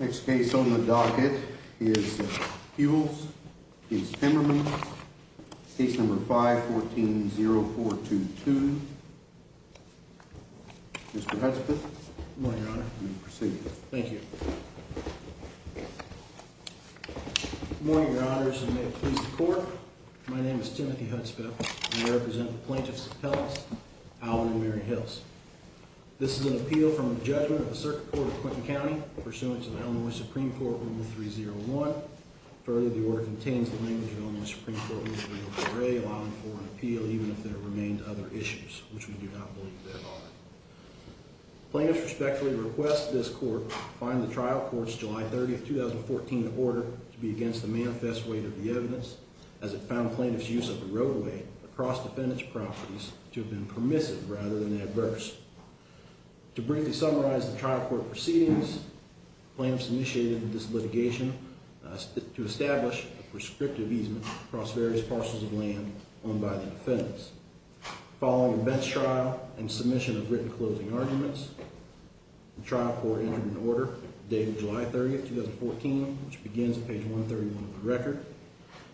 Next case on the docket is Huels v. Timmermann, case number 514-0422. Mr. Hudspeth. Good morning, your honor. You may proceed. Thank you. Good morning, your honors, and may it please the court. My name is Timothy Hudspeth, and I represent the plaintiffs of Pellis, Alvin, and Mary Hills. This is an appeal from the judgment of the Circuit Court of Clinton County pursuant to the Illinois Supreme Court Rule 301. Further, the order contains the language of the Illinois Supreme Court Rule 303, allowing for an appeal even if there remain other issues, which we do not believe there are. Plaintiffs respectfully request this court find the trial court's July 30, 2014, order to be against the manifest weight of the evidence, as it found plaintiffs' use of the roadway across defendant's properties to have been permissive rather than adverse. To briefly summarize the trial court proceedings, plaintiffs initiated this litigation to establish a prescriptive easement across various parcels of land owned by the defendants. Following a bench trial and submission of written closing arguments, the trial court entered an order dated July 30, 2014, which begins at page 131 of the record.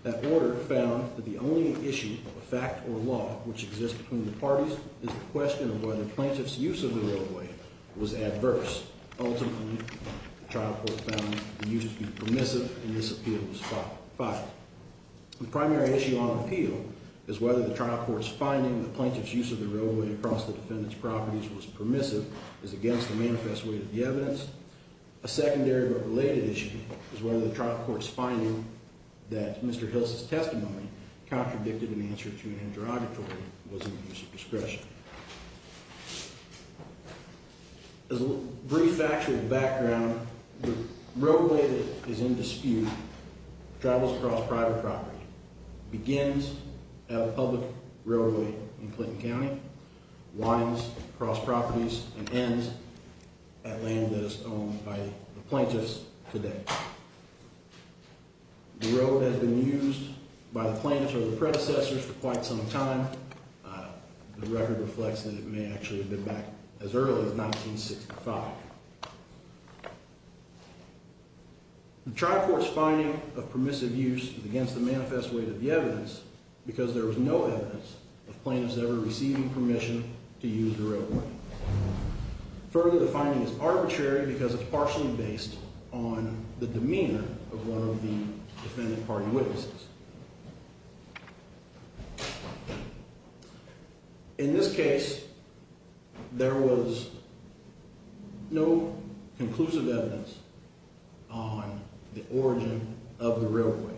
That order found that the only issue of a fact or law which exists between the parties is the question of whether plaintiffs' use of the roadway was adverse. Ultimately, the trial court found the use to be permissive, and this appeal was filed. The primary issue on appeal is whether the trial court's finding that plaintiffs' use of the roadway across the defendant's properties was permissive is against the manifest weight of the evidence. A secondary but related issue is whether the trial court's finding that Mr. Hill's testimony contradicted an answer to an interrogatory was in the use of discretion. As a brief factual background, the roadway that is in dispute travels across private property, begins at a public railway in Clinton County, winds across properties, and ends at land that is owned by the plaintiffs today. The road has been used by the plaintiffs or their predecessors for quite some time. The record reflects that it may actually have been back as early as 1965. The trial court's finding of permissive use is against the manifest weight of the evidence because there was no evidence of plaintiffs ever receiving permission to use the roadway. Further, the finding is arbitrary because it's partially based on the demeanor of one of the defendant party witnesses. In this case, there was no conclusive evidence on the origin of the roadway.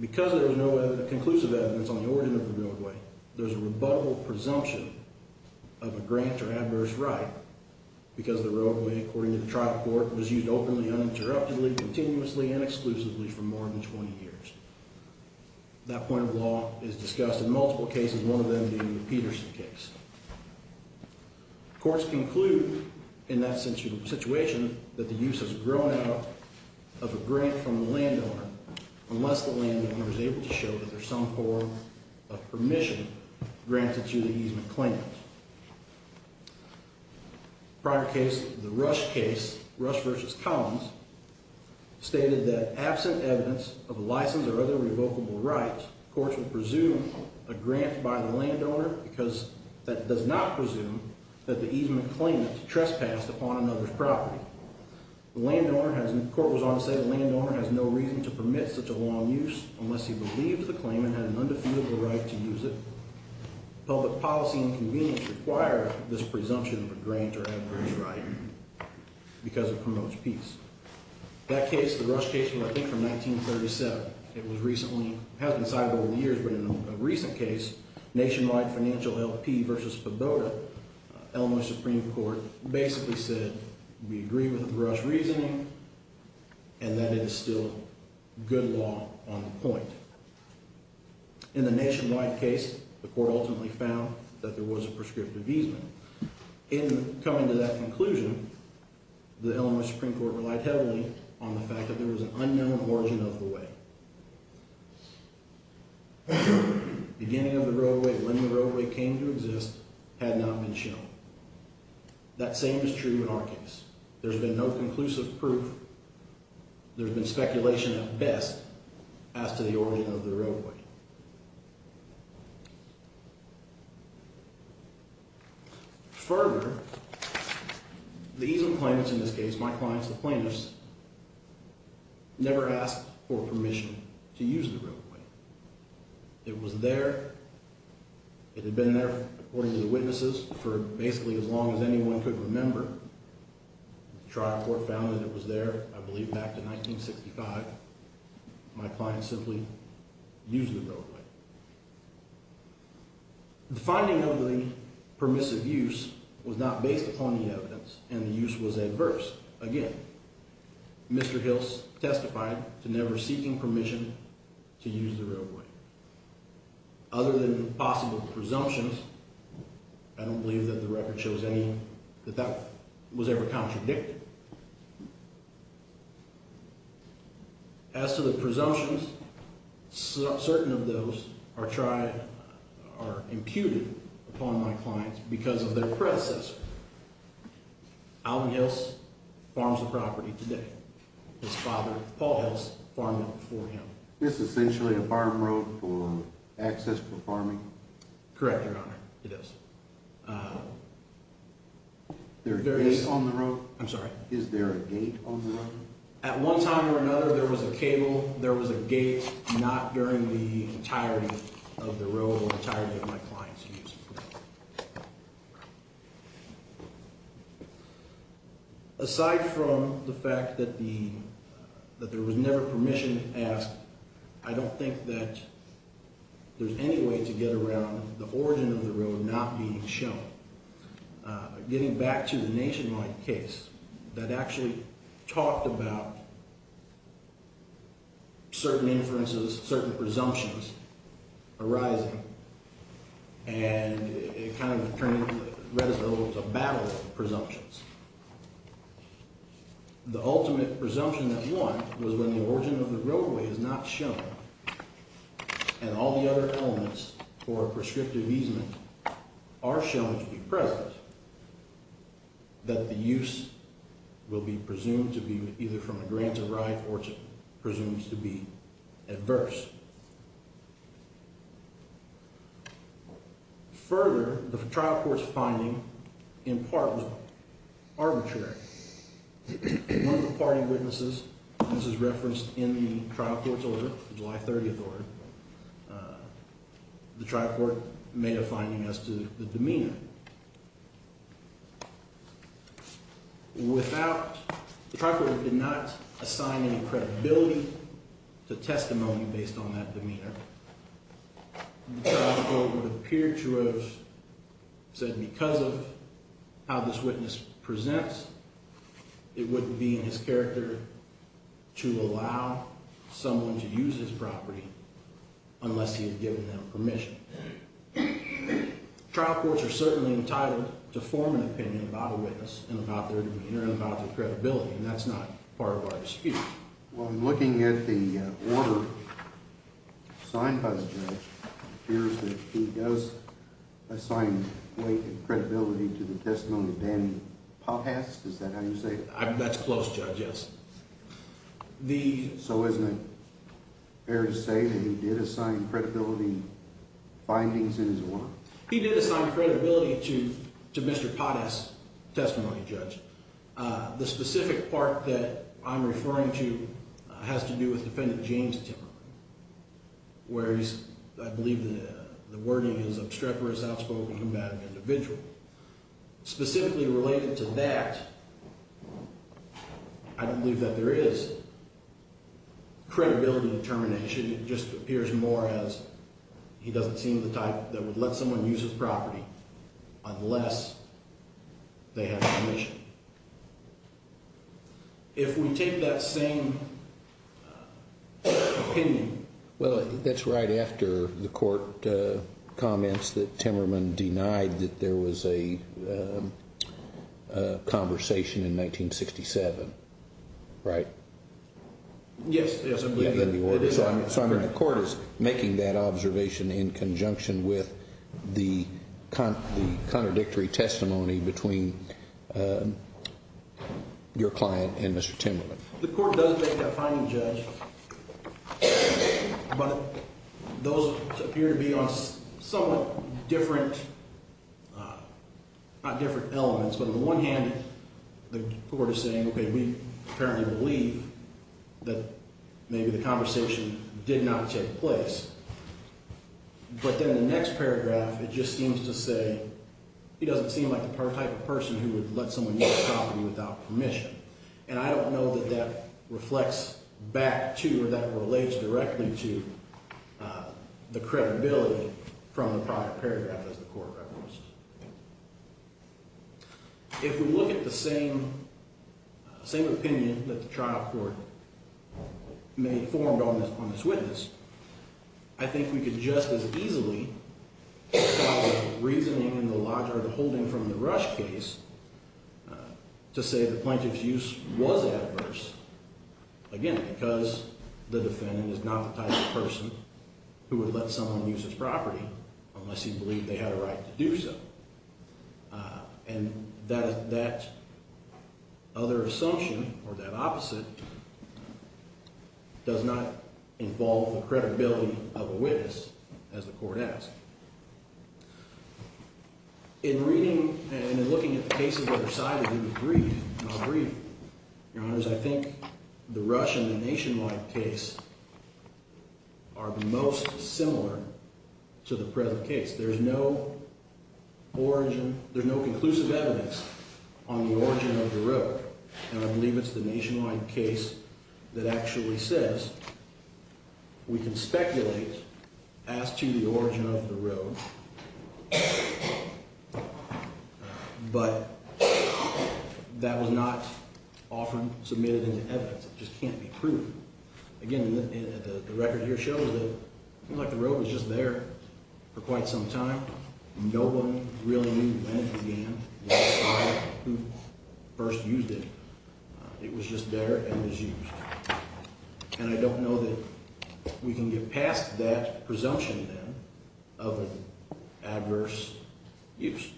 Because there was no conclusive evidence on the origin of the roadway, there's a rebuttable presumption of a grant or adverse right because the roadway, according to the trial court, was used openly, uninterruptedly, continuously, and exclusively for more than 20 years. That point of law is discussed in multiple cases, one of them being the Peterson case. Courts conclude in that situation that the use has grown out of a grant from the landowner unless the landowner is able to show that there's some form of permission granted to the easement claimant. Prior case, the Rush case, Rush v. Collins, stated that absent evidence of a license or other revocable right, courts would presume a grant by the landowner because that does not presume that the easement claimant trespassed upon another's property. The court was on to say the landowner has no reason to permit such a long use unless he believes the claimant had an undefeatable right to use it. Public policy and convenience require this presumption of a grant or adverse right because it promotes peace. That case, the Rush case, was, I think, from 1937. It was recently, hasn't been cited over the years, but in a recent case, Nationwide Financial LP v. Poboda, Illinois Supreme Court, basically said we agree with the Rush reasoning and that it is still good law on the point. In the Nationwide case, the court ultimately found that there was a prescriptive easement. In coming to that conclusion, the Illinois Supreme Court relied heavily on the fact that there was an unknown origin of the way. Beginning of the roadway, when the roadway came to exist, had not been shown. That same is true in our case. There's been no conclusive proof. There's been speculation at best as to the origin of the roadway. Further, the easement claimants in this case, my clients, the plaintiffs, never asked for permission to use the roadway. It was there. It had been there, according to the witnesses, for basically as long as anyone could remember. The trial court found that it was there, I believe, back to 1965. My clients simply used the roadway. The finding of the permissive use was not based upon the evidence, and the use was adverse. Again, Mr. Hills testified to never seeking permission to use the roadway. Other than possible presumptions, I don't believe that the record shows that that was ever contradicted. As to the presumptions, certain of those are imputed upon my clients because of their predecessor. Alton Hills farms the property today. His father, Paul Hills, farmed it before him. Is this essentially a farm road for access for farming? Correct, Your Honor. It is. Is there a gate on the road? I'm sorry? Is there a gate on the road? At one time or another, there was a cable. There was a gate not during the entirety of the road or the entirety of my clients' use. Aside from the fact that there was never permission asked, I don't think that there's any way to get around the origin of the road not being shown. Getting back to the Nationwide case that actually talked about certain inferences, certain presumptions arising, and it kind of read us a battle of presumptions. The ultimate presumption that won was when the origin of the roadway is not shown and all the other elements for prescriptive easement are shown to be present, that the use will be presumed to be either from a grant of right or presumes to be adverse. Further, the trial court's finding, in part, was arbitrary. None of the party witnesses, and this is referenced in the trial court's order, the July 30th order, the trial court made a finding as to the demeanor. The trial court did not assign any credibility to testimony based on that demeanor. The trial court would appear to have said because of how this witness presents, it wouldn't be in his character to allow someone to use his property unless he had given them permission. Trial courts are certainly entitled to form an opinion about a witness and about their demeanor and about their credibility, and that's not part of our dispute. Well, I'm looking at the order assigned by the judge. It appears that he does assign credibility to the testimony of Danny Pottas. Is that how you say it? That's close, Judge, yes. So isn't it fair to say that he did assign credibility findings in his order? He did assign credibility to Mr. Pottas' testimony, Judge. The specific part that I'm referring to has to do with Defendant James Tiller, where I believe the wording is obstreperous, outspoken, combative individual. Specifically related to that, I don't believe that there is credibility determination. It just appears more as he doesn't seem the type that would let someone use his property unless they have permission. If we take that same opinion. Well, that's right after the court comments that Timmerman denied that there was a conversation in 1967, right? Yes, yes, I believe he did. So the court is making that observation in conjunction with the contradictory testimony between your client and Mr. Timmerman. The court does make that finding, Judge. But those appear to be on somewhat different elements. But on the one hand, the court is saying, okay, we apparently believe that maybe the conversation did not take place. But then the next paragraph, it just seems to say he doesn't seem like the type of person who would let someone use his property without permission. And I don't know that that reflects back to or that relates directly to the credibility from the prior paragraph as the court referenced. If we look at the same opinion that the trial court may have formed on this witness, I think we could just as easily follow the reasoning in the Lodgard holding from the Rush case to say the plaintiff's use was adverse. Again, because the defendant is not the type of person who would let someone use his property unless he believed they had a right to do so. And that other assumption or that opposite does not involve the credibility of a witness, as the court asked. In reading and in looking at the cases that are cited in the brief, your honors, I think the Rush and the Nationwide case are the most similar to the present case. There's no origin, there's no conclusive evidence on the origin of the road. And I believe it's the Nationwide case that actually says we can speculate as to the origin of the road, but that was not often submitted into evidence. It just can't be proven. Again, the record here shows that the road was just there for quite some time. No one really knew when it began or who first used it. It was just there and was used. And I don't know that we can get past that presumption then of an adverse use.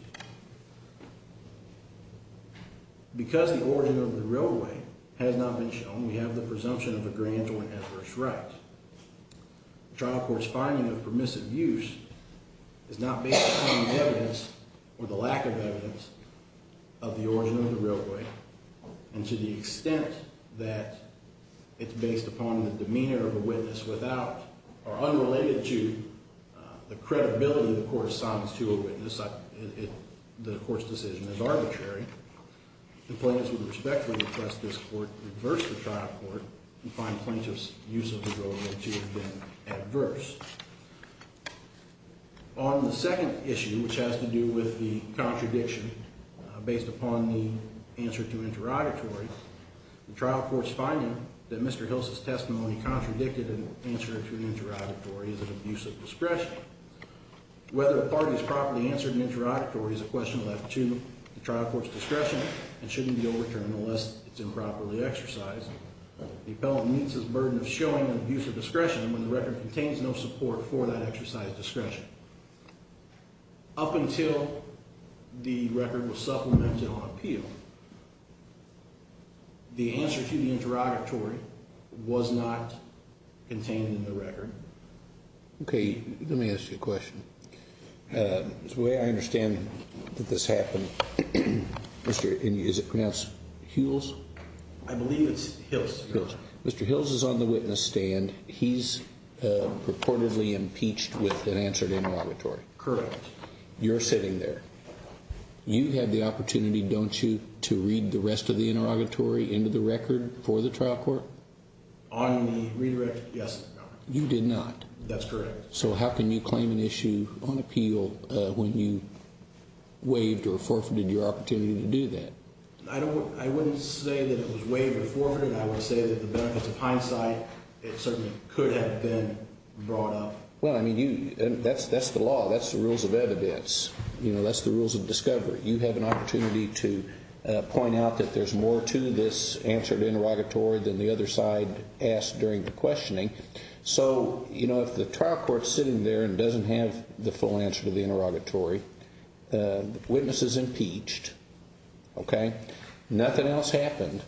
Because the origin of the railway has not been shown, we have the presumption of a grant or an adverse right. The trial court's finding of permissive use is not based upon the evidence or the lack of evidence of the origin of the railway. And to the extent that it's based upon the demeanor of a witness without or unrelated to the credibility the court assigns to a witness, the court's decision is arbitrary. The plaintiffs would respectfully request this court reverse the trial court and find plaintiff's use of the road to have been adverse. On the second issue, which has to do with the contradiction based upon the answer to interrogatory, the trial court's finding that Mr. Hills' testimony contradicted an answer to an interrogatory is an abuse of discretion. Whether the parties properly answered an interrogatory is a question left to the trial court's discretion and shouldn't be overturned unless it's improperly exercised. The appellant meets his burden of showing an abuse of discretion when the record contains no support for that exercise of discretion. Up until the record was supplemented on appeal, the answer to the interrogatory was not contained in the record. Okay, let me ask you a question. The way I understand that this happened, is it pronounced Hules? I believe it's Hills. Mr. Hills is on the witness stand. He's purportedly impeached with an answer to interrogatory. Correct. You're sitting there. You had the opportunity, don't you, to read the rest of the interrogatory into the record for the trial court? On the redirect, yes. You did not. That's correct. So how can you claim an issue on appeal when you waived or forfeited your opportunity to do that? I wouldn't say that it was waived or forfeited. I would say that the benefits of hindsight, it certainly could have been brought up. Well, I mean, that's the law. That's the rules of evidence. That's the rules of discovery. You have an opportunity to point out that there's more to this answer to interrogatory than the other side asked during the questioning. So, you know, if the trial court's sitting there and doesn't have the full answer to the interrogatory, the witness is impeached, okay? Nothing else happened.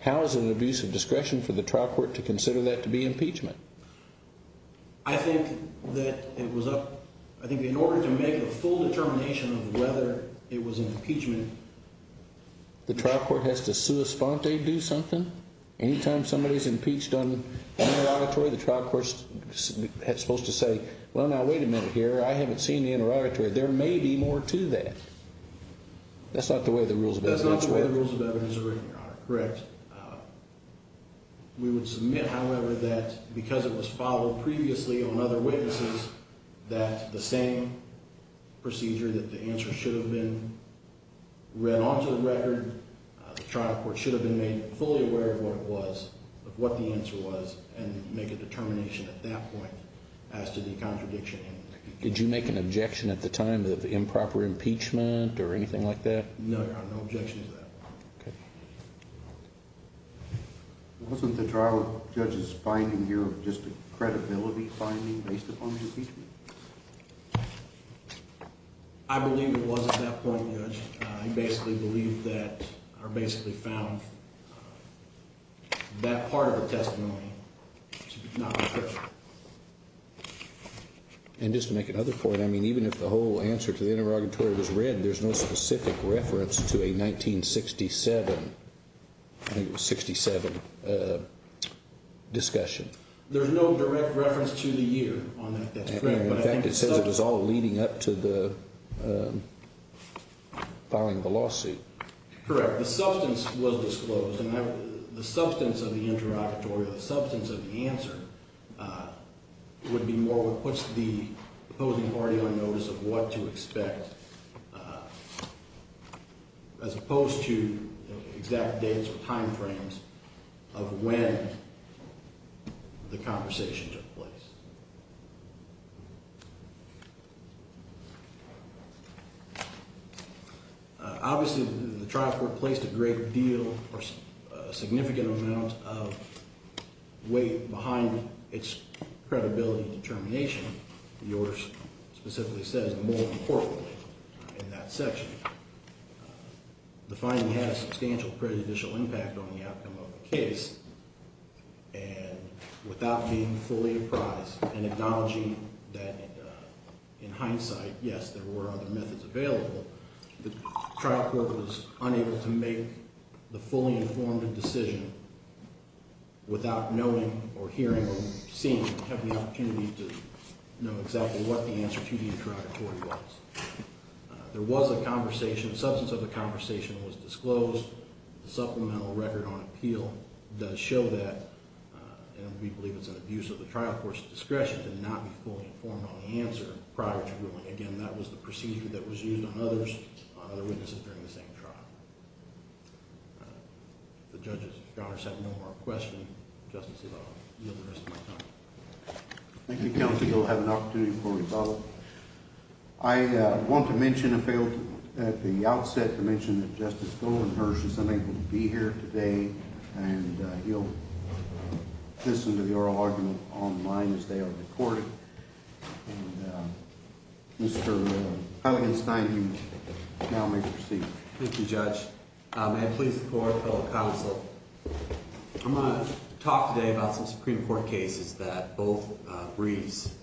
How is it an abuse of discretion for the trial court to consider that to be impeachment? I think that it was a – I think in order to make a full determination of whether it was an impeachment, the trial court has to sua sponte do something. Anytime somebody's impeached on interrogatory, the trial court's supposed to say, well, now, wait a minute here. I haven't seen the interrogatory. There may be more to that. That's not the way the rules of evidence work. That's not the way the rules of evidence are written, Your Honor. Correct. We would submit, however, that because it was followed previously on other witnesses that the same procedure that the answer should have been read onto the record, the trial court should have been made fully aware of what it was, of what the answer was, and make a determination at that point as to the contradiction. Did you make an objection at the time of improper impeachment or anything like that? No, Your Honor. No objection to that. Okay. Wasn't the trial judge's finding here just a credibility finding based upon the impeachment? I believe it was at that point, Judge. I basically believe that I basically found that part of the testimony to be not correct. And just to make another point, I mean, even if the whole answer to the interrogatory was read, there's no specific reference to a 1967 discussion. There's no direct reference to the year on that. In fact, it says it was all leading up to the filing of the lawsuit. Correct. The substance was disclosed. And the substance of the interrogatory or the substance of the answer would be more what puts the opposing party on notice of what to expect, as opposed to exact dates or time frames of when the conversation took place. Obviously, the trial court placed a great deal or a significant amount of weight behind its credibility determination. Yours specifically says more importantly in that section the finding had a substantial prejudicial impact on the outcome of the case. And without being fully apprised and acknowledging that in hindsight, yes, there were other methods available, the trial court was unable to make the fully informed decision without knowing or hearing or seeing or having the opportunity to know exactly what the answer to the interrogatory was. There was a conversation. The substance of the conversation was disclosed. The supplemental record on appeal does show that. And we believe it's an abuse of the trial court's discretion to not be fully informed on the answer prior to ruling. Again, that was the procedure that was used on others, on other witnesses during the same trial. The judges, if you all have no more questions, Justice Evaldo, I'll yield the rest of my time. Thank you, counsel. You'll have an opportunity for rebuttal. I want to mention at the outset to mention that Justice Goldenhurst isn't able to be here today, and he'll listen to the oral argument online as they are recorded. Mr. Heiligenstein, you now may proceed. Thank you, Judge. May I please report, fellow counsel? I'm going to talk today about some Supreme Court cases that both briefs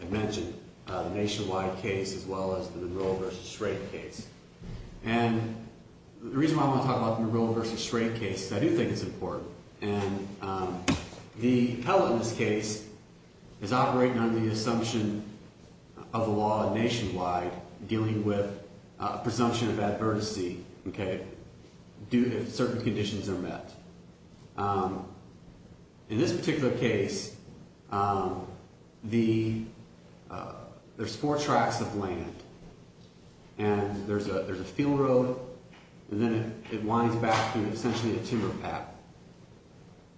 have mentioned, the Nationwide case as well as the Monroe v. Shrake case. And the reason why I want to talk about the Monroe v. Shrake case is I do think it's important. And the appellate in this case is operating under the assumption of the law nationwide dealing with a presumption of advertisee, okay, if certain conditions are met. In this particular case, there's four tracts of land, and there's a field road, and then it winds back through essentially a timber path.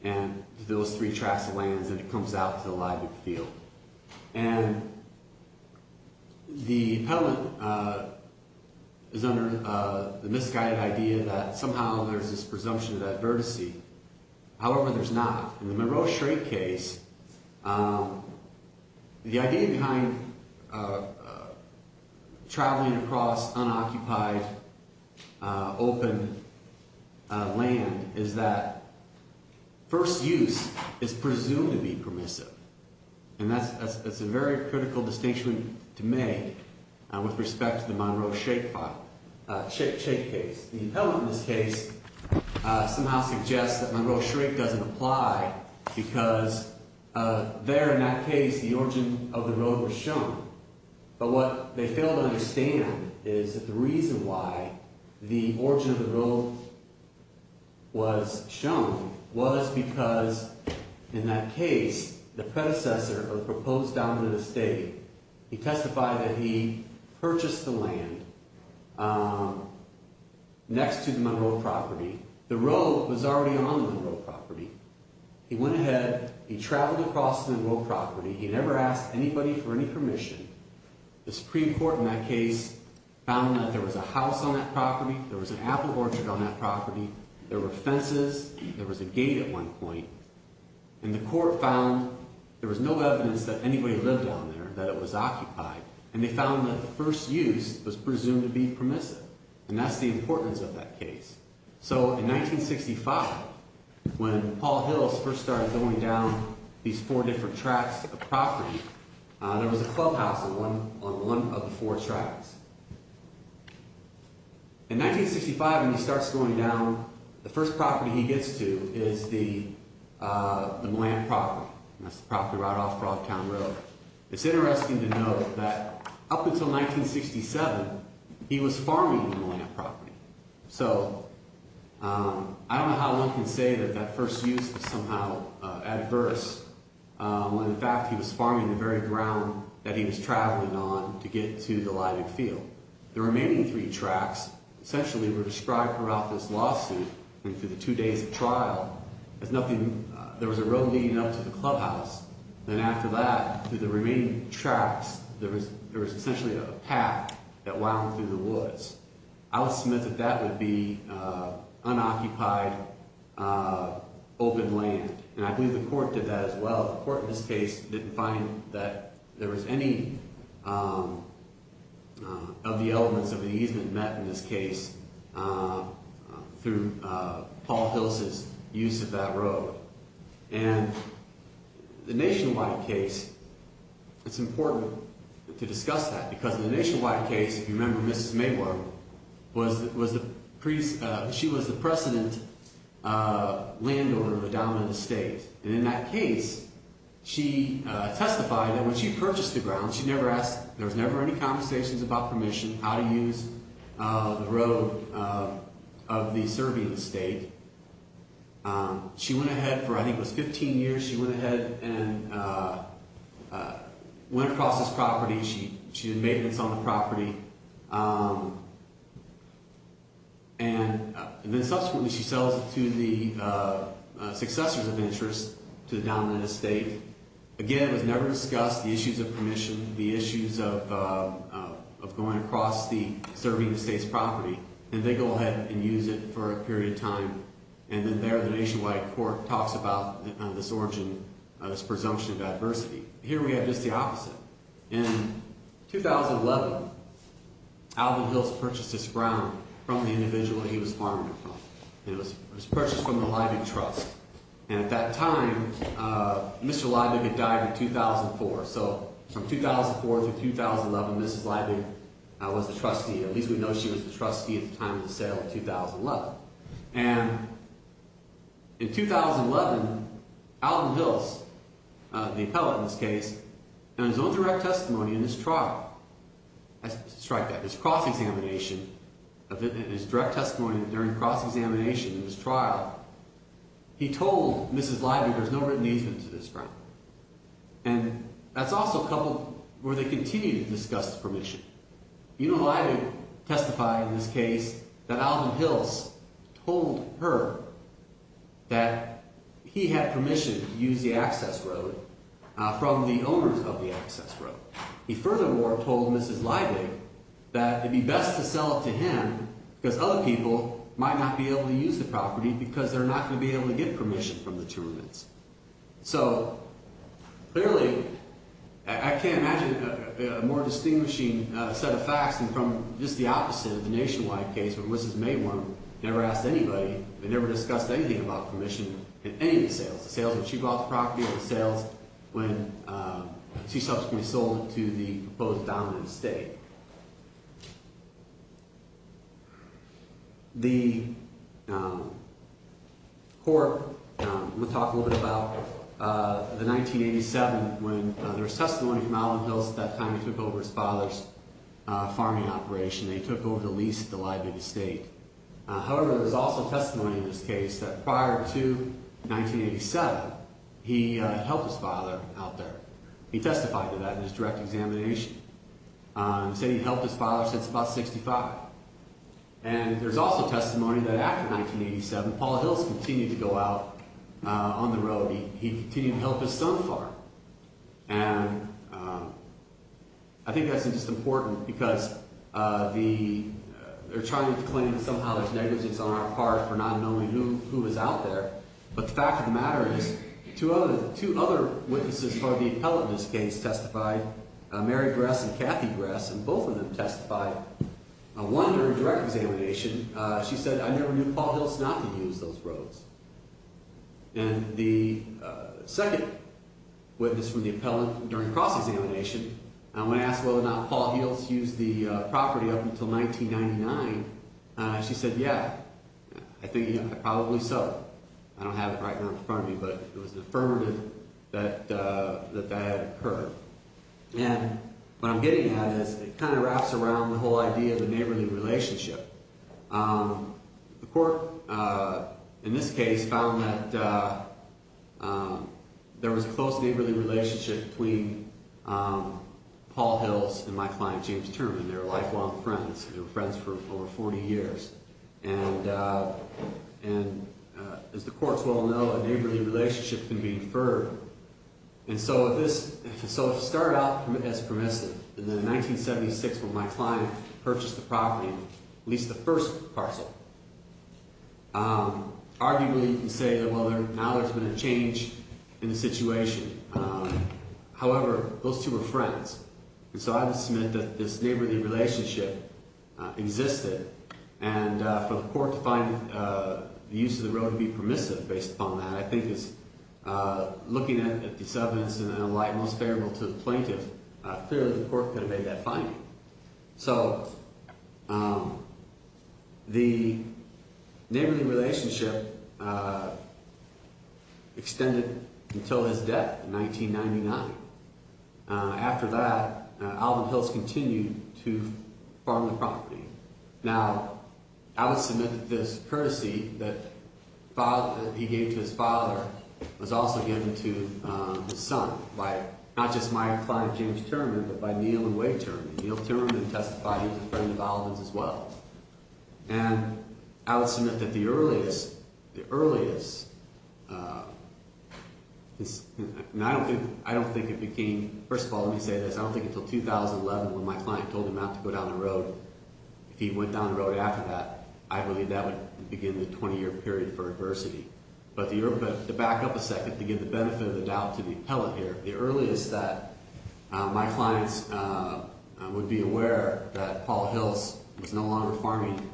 And those three tracts of land, then it comes out to the lively field. And the appellate is under the misguided idea that somehow there's this presumption of advertisee. However, there's not. In the Monroe v. Shrake case, the idea behind traveling across unoccupied, open land is that first use is presumed to be permissive. And that's a very critical distinction to make with respect to the Monroe v. Shrake case. The appellate in this case somehow suggests that Monroe v. Shrake doesn't apply because there in that case, the origin of the road was shown. But what they fail to understand is that the reason why the origin of the road was shown was because in that case, the predecessor of the proposed dominant estate, he testified that he purchased the land. Next to the Monroe property, the road was already on the Monroe property. He went ahead, he traveled across the Monroe property, he never asked anybody for any permission. The Supreme Court in that case found that there was a house on that property, there was an apple orchard on that property, there were fences, there was a gate at one point. And the court found there was no evidence that anybody lived on there, that it was occupied. And they found that the first use was presumed to be permissive. And that's the importance of that case. So in 1965, when Paul Hills first started going down these four different tracks of property, there was a clubhouse on one of the four tracks. In 1965, when he starts going down, the first property he gets to is the Millan property. And that's the property right off Broadtown Road. It's interesting to note that up until 1967, he was farming on the Millan property. So I don't know how one can say that that first use was somehow adverse when in fact he was farming the very ground that he was traveling on to get to the Leibig Field. The remaining three tracks essentially were described throughout this lawsuit and for the two days of trial as nothing, there was a road leading up to the clubhouse. Then after that, through the remaining tracks, there was essentially a path that wound through the woods. I would submit that that would be unoccupied open land. And I believe the court did that as well. The court in this case didn't find that there was any of the elements of an easement met in this case through Paul Hills' use of that road. And the nationwide case, it's important to discuss that because in the nationwide case, if you remember, Mrs. Mabler, she was the precedent landowner of a dominant estate. And in that case, she testified that when she purchased the ground, there was never any conversations about permission, how to use the road of the Serbian estate. She went ahead for I think it was 15 years. She went ahead and went across this property. She did maintenance on the property. And then subsequently, she sells it to the successors of interest to the dominant estate. Again, it was never discussed, the issues of permission, the issues of going across the Serbian estate's property. And they go ahead and use it for a period of time. And then there, the nationwide court talks about this origin, this presumption of adversity. Here we have just the opposite. In 2011, Alvin Hills purchased this ground from the individual he was farming it from. It was purchased from the Leibig Trust. And at that time, Mr. Leibig had died in 2004. So from 2004 to 2011, Mrs. Leibig was the trustee. At least we know she was the trustee at the time of the sale in 2011. And in 2011, Alvin Hills, the appellate in this case, in his own direct testimony in his trial, I strike that, his cross-examination, in his direct testimony during cross-examination in his trial, he told Mrs. Leibig there's no written easement to this ground. And that's also where they continue to discuss the permission. You know, Leibig testified in this case that Alvin Hills told her that he had permission to use the access road from the owners of the access road. He furthermore told Mrs. Leibig that it'd be best to sell it to him because other people might not be able to use the property because they're not going to be able to get permission from the tournaments. So, clearly, I can't imagine a more distinguishing set of facts than from just the opposite of the nationwide case where Mrs. Mayworm never asked anybody, they never discussed anything about permission in any of the sales. The sales when she bought the property and the sales when she subsequently sold it to the proposed dominant estate. The court, I'm going to talk a little bit about the 1987 when there was testimony from Alvin Hills at that time he took over his father's farming operation. They took over the lease at the Leibig Estate. However, there was also testimony in this case that prior to 1987, he helped his father out there. He testified to that in his direct examination. He said he'd helped his father since about 65. And there's also testimony that after 1987, Paul Hills continued to go out on the road. He continued to help his son farm. And I think that's just important because they're trying to claim that somehow there's negligence on our part for not knowing who was out there. But the fact of the matter is two other witnesses for the appellate in this case testified, Mary Grass and Kathy Grass, and both of them testified. One during direct examination, she said, I never knew Paul Hills not to use those roads. And the second witness from the appellate during cross-examination, when asked whether or not Paul Hills used the property up until 1999, she said, yeah, I think probably so. I don't have it right here in front of me, but it was affirmative that that had occurred. And what I'm getting at is it kind of wraps around the whole idea of a neighborly relationship. The court in this case found that there was a close neighborly relationship between Paul Hills and my client, James Terman. They were lifelong friends. They were friends for over 40 years. And as the courts well know, a neighborly relationship can be inferred. And so if this started out as permissive, and then in 1976 when my client purchased the property, at least the first parcel, arguably you can say that, well, now there's been a change in the situation. However, those two were friends. And so I would submit that this neighborly relationship existed. And for the court to find the use of the road to be permissive based upon that, I think is looking at the evidence in a light most favorable to the plaintiff, clearly the court could have made that finding. So the neighborly relationship extended until his death in 1999. After that, Alvin Hills continued to farm the property. Now, I would submit that this courtesy that he gave to his father was also given to his son by not just my client, James Terman, but by Neil and Wade Terman. Neil Terman testified he was a friend of Alvin's as well. And I would submit that the earliest, I don't think it became, first of all, let me say this, I don't think until 2011 when my client told him not to go down the road, if he went down the road after that, I believe that would begin the 20-year period for adversity. But to back up a second, to give the benefit of the doubt to the appellate here, the earliest that my clients would be aware that Paul Hills was no longer farming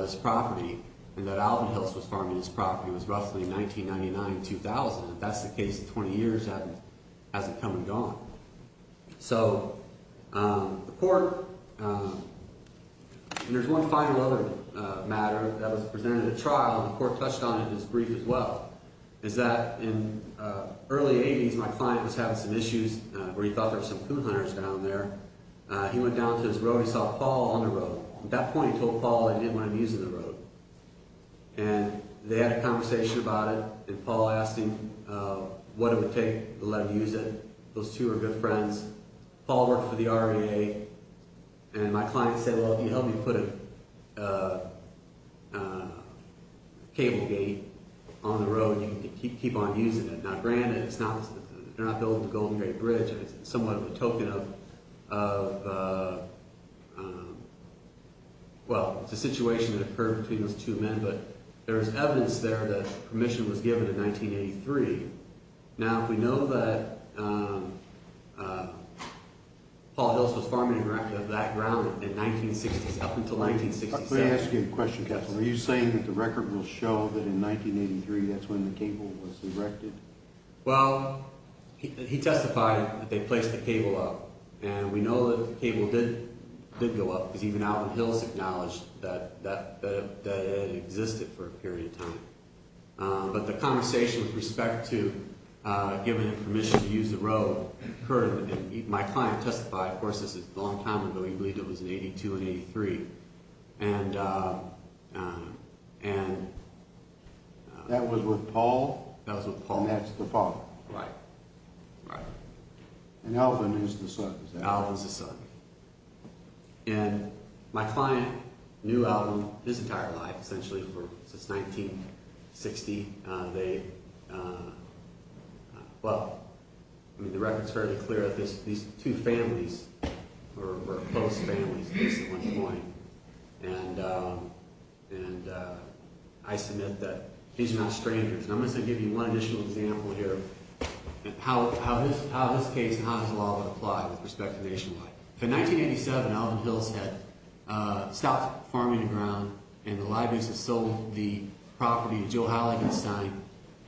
this property and that Alvin Hills was farming this property was roughly 1999-2000. If that's the case in 20 years, that hasn't come and gone. So the court, and there's one final other matter that was presented at trial and the court touched on it in its brief as well, is that in early 80s, my client was having some issues where he thought there were some coon hunters down there. He went down to his road, he saw Paul on the road. At that point he told Paul I didn't want him using the road. And they had a conversation about it and Paul asked him what it would take to let him use it. Those two were good friends. Paul worked for the REA and my client said, well, if you help me put a cable gate on the road, you can keep on using it. Now granted, they're not building the Golden Gate Bridge and it's somewhat of a token of, well, it's a situation that occurred between those two men, but there's evidence there that permission was given in 1983. Now if we know that Paul Hills was farming and erecting that ground in 1960s up until 1967. Let me ask you a question, Captain. Are you saying that the record will show that in 1983 that's when the cable was erected? Well, he testified that they placed the cable up and we know that the cable did go up because even Alvin Hills acknowledged that it existed for a period of time. But the conversation with respect to giving permission to use the road occurred and my client testified, of course, this is a long time ago, he believed it was in 82 and 83. That was with Paul? That was with Paul. And that's the father? Right. And Alvin is the son? Alvin's the son. And my client knew Alvin his entire life, essentially, since 1960. They, well, I mean the record's fairly clear that these two families were close families at one point and I submit that these are not strangers. And I'm going to give you one additional example here of how this case and how this law would apply with respect to nationwide. In 1987, Alvin Hills had stopped farming the ground and the libraries had sold the property to Joe Halligenstein.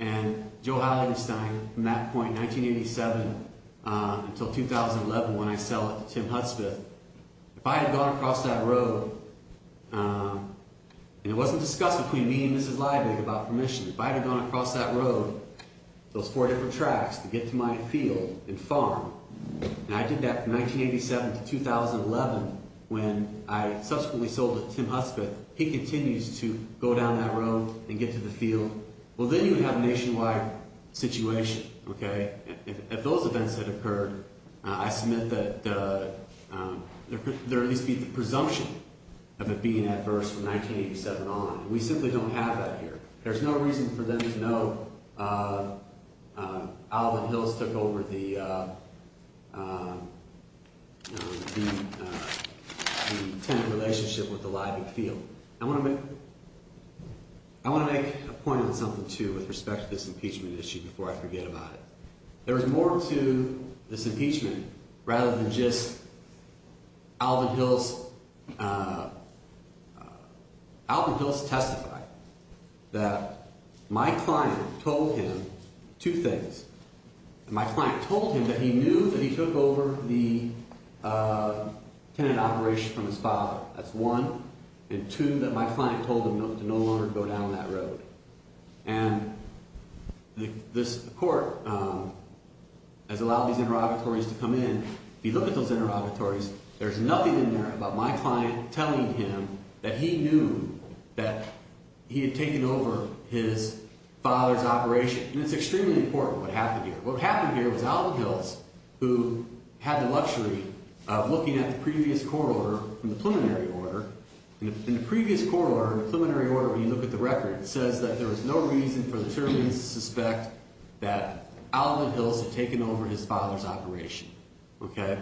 And Joe Halligenstein, from that point, 1987 until 2011 when I sell it to Tim Hudspeth, if I had gone across that road and it wasn't discussed between me and Mrs. Libig about permission, if I had gone across that road, those four different tracks to get to my field and farm, and I did that from 1987 to 2011 when I subsequently sold it to Tim Hudspeth, he continues to go down that road and get to the field, well, then you have a nationwide situation, okay? If those events had occurred, I submit that there would at least be the presumption of it being adverse from 1987 on. We simply don't have that here. It's interesting for them to know Alvin Hills took over the tenant relationship with the Libig field. I want to make a point on something, too, with respect to this impeachment issue before I forget about it. There was more to this impeachment rather than just Alvin Hills, Alvin Hills testified that my client told him two things. My client told him that he knew that he took over the tenant operation from his father. That's one, and two, that my client told him to no longer go down that road. And the court has allowed these interrogatories to come in. If you look at those interrogatories, there's nothing in there about my client telling him that he knew that he had taken over his father's operation. And it's extremely important what happened here. What happened here was Alvin Hills, who had the luxury of looking at the previous court order from the preliminary order, in the previous court order, preliminary order, when you look at the record, it says that there was no reason for the terminant to suspect that Alvin Hills had taken over his father's operation. Okay?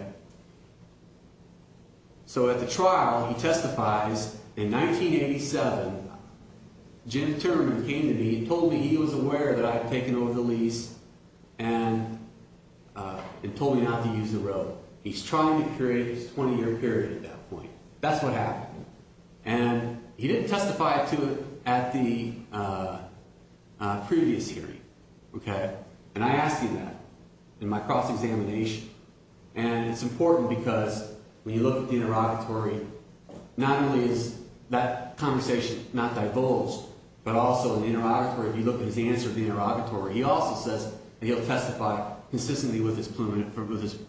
So at the trial, he testifies, in 1987, Jim Turman came to me and told me he was aware that I had taken over the lease and told me not to use the road. He's trying to create his 20-year period at that point. That's what happened. And he didn't testify to it at the previous hearing. Okay? And I asked him that in my cross-examination. And it's important because when you look at the interrogatory, not only is that conversation not divulged, but also in the interrogatory, if you look at his answer at the interrogatory, he also says that he'll testify consistently with his preliminary, with his,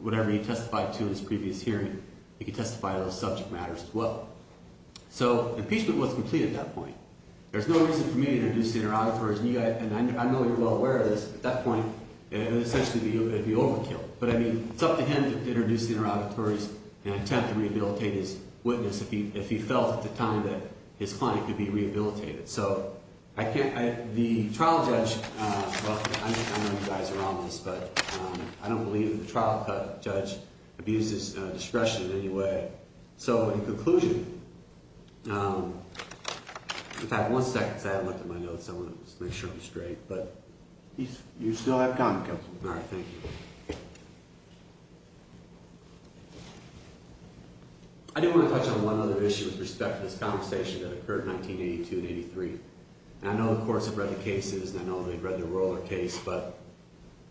whatever he testified to in his previous hearing, he could testify to those subject matters as well. So impeachment wasn't complete at that point. There's no reason for me to introduce the interrogatories. And I know you're well aware of this. At that point, it would essentially be overkill. But I mean, it's up to him to introduce the interrogatories and attempt to rehabilitate his witness if he felt at the time that his client could be rehabilitated. So I can't, the trial judge, well, I know you guys are on this, but I don't believe that the trial judge abuses discretion in any way. So in conclusion, in fact, one second, because I haven't looked at my notes. I want to just make sure I'm straight, but. You still have time, Counselor. All right. Thank you. Thank you. I do want to touch on one other issue with respect to this conversation that occurred in 1982 and 83. And I know the courts have read the cases, and I know they've read the Roller case, but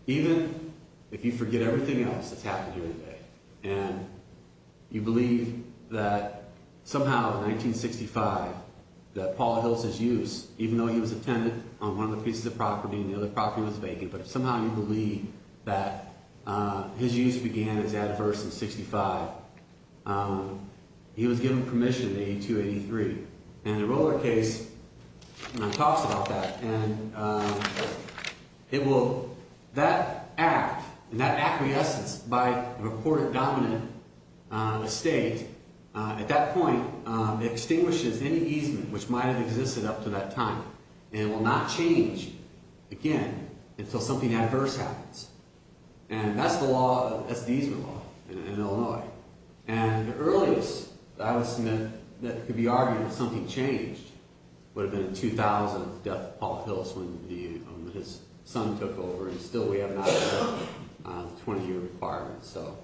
even if you forget everything else that's happened here today, and you believe that somehow in 1965 that Paula Hills' use, even though he was a tenant on one of the pieces of property and the other property was vacant, but somehow you believe that his use began as adverse in 65, he was given permission in 82, 83. And the Roller case talks about that. And it will, that act and that acquiescence by the reported dominant estate, at that point, extinguishes any easement which might have existed up to that time. And it will not change again until something adverse happens. And that's the law, that's the easement law in Illinois. And the earliest that I would submit that could be argued that something changed would have been in 2000, the death of Paula Hills when his son took over. And still we have not met the 20-year requirement. So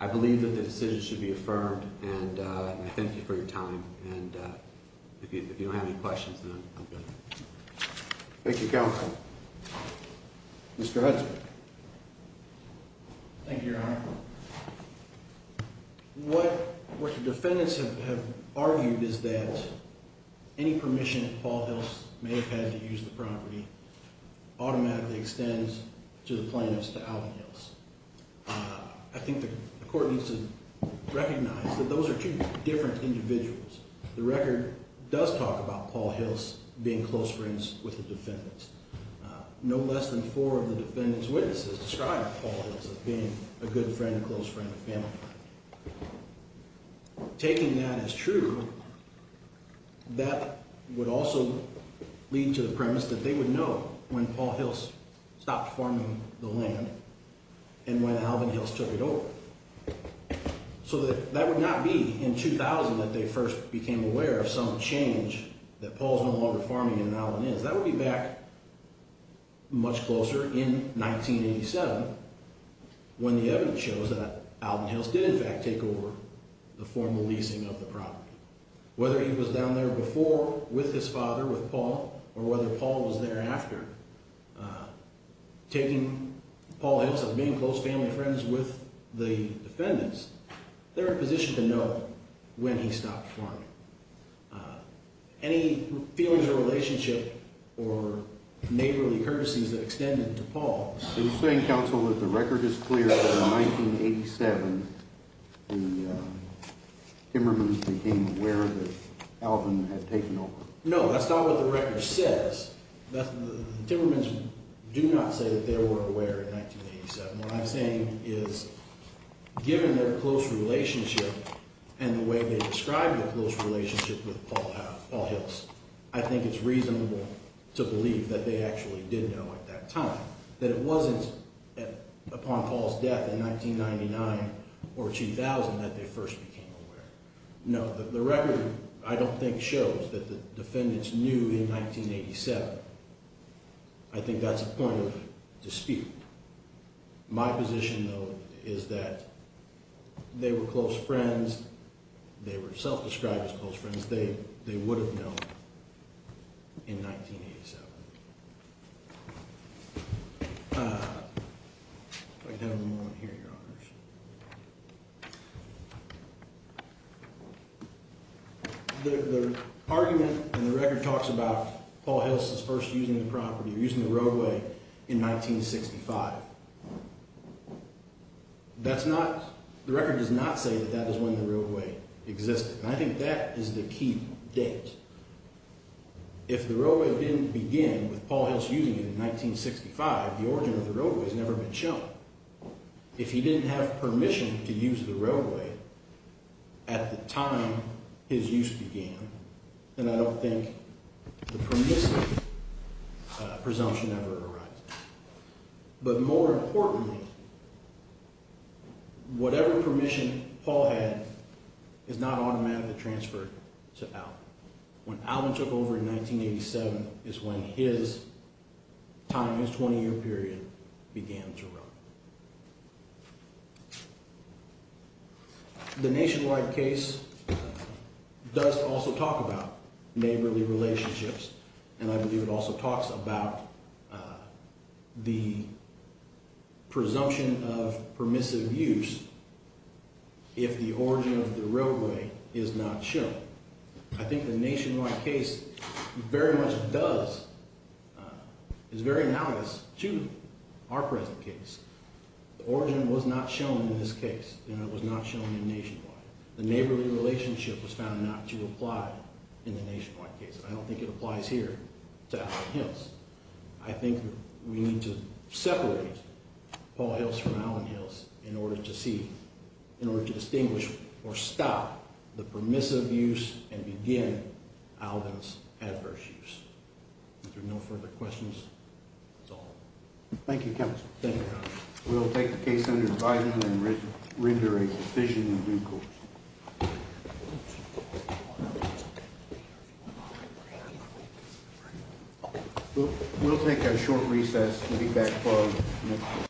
I believe that the decision should be affirmed. And I thank you for your time. And if you don't have any questions, then I'm done. Thank you, Counsel. Mr. Hudson. Thank you, Your Honor. What the defendants have argued is that any permission that Paula Hills may have had to use the property automatically extends to the plaintiffs, to Alvin Hills. I think the court needs to recognize that those are two different individuals. The record does talk about Paula Hills being close friends with the defendants. No less than four of the defendants' witnesses describe Paula Hills as being a good friend, a close friend, a family friend. Taking that as true, that would also lead to the premise that they would know when Paula Hills stopped farming the land and when Alvin Hills took it over. So that would not be in 2000 that they first became aware of some change that Paul's no longer farming and Alvin is. That would be back much closer in 1987 when the evidence shows that Alvin Hills did in fact take over the formal leasing of the property. Whether he was down there before with his father, with Paul, or whether Paul was there after taking Paula Hills as being close family friends with the defendants, they're in position to know when he stopped farming. Any feelings of relationship or neighborly courtesies that extended to Paul. So you're saying, counsel, that the record is clear that in 1987 the Timmermans became aware that Alvin had taken over? No, that's not what the record says. The Timmermans do not say that they were aware in 1987. What I'm saying is given their close relationship and the way they describe their close relationship with Paul Hills, I think it's reasonable to believe that they actually did know at that time. It wasn't upon Paul's death in 1999 or 2000 that they first became aware. No, the record, I don't think, shows that the defendants knew in 1987. I think that's a point of dispute. My position, though, is that they were close friends, they were self-described as close friends, they would have known in 1987. If I could have a moment here, Your Honors. The argument in the record talks about Paul Hills' first using the property, using the roadway in 1965. That's not, the record does not say that that is when the roadway existed. I think that is the key date. If the roadway didn't begin with Paul Hills using it in 1965, the origin of the roadway has never been shown. If he didn't have permission to use the roadway at the time his use began, then I don't think the permissive presumption ever arises. But more importantly, whatever permission Paul had is not automatically transferred to Alvin. When Alvin took over in 1987 is when his time, his 20-year period, began to run. The nationwide case does also talk about neighborly relationships, and I believe it also talks about the presumption of permissive use if the origin of the roadway is not shown. I think the nationwide case very much does, is very analogous to our present case. The origin was not shown in this case, and it was not shown in nationwide. The neighborly relationship was found not to apply in the nationwide case. I don't think it applies here to Alvin Hills. I think we need to separate Paul Hills from Alvin Hills in order to see, in order to distinguish or stop the permissive use and begin Alvin's adverse use. If there are no further questions, that's all. Thank you, counsel. We'll take the case under advisement and render a decision in due course. We'll take a short recess.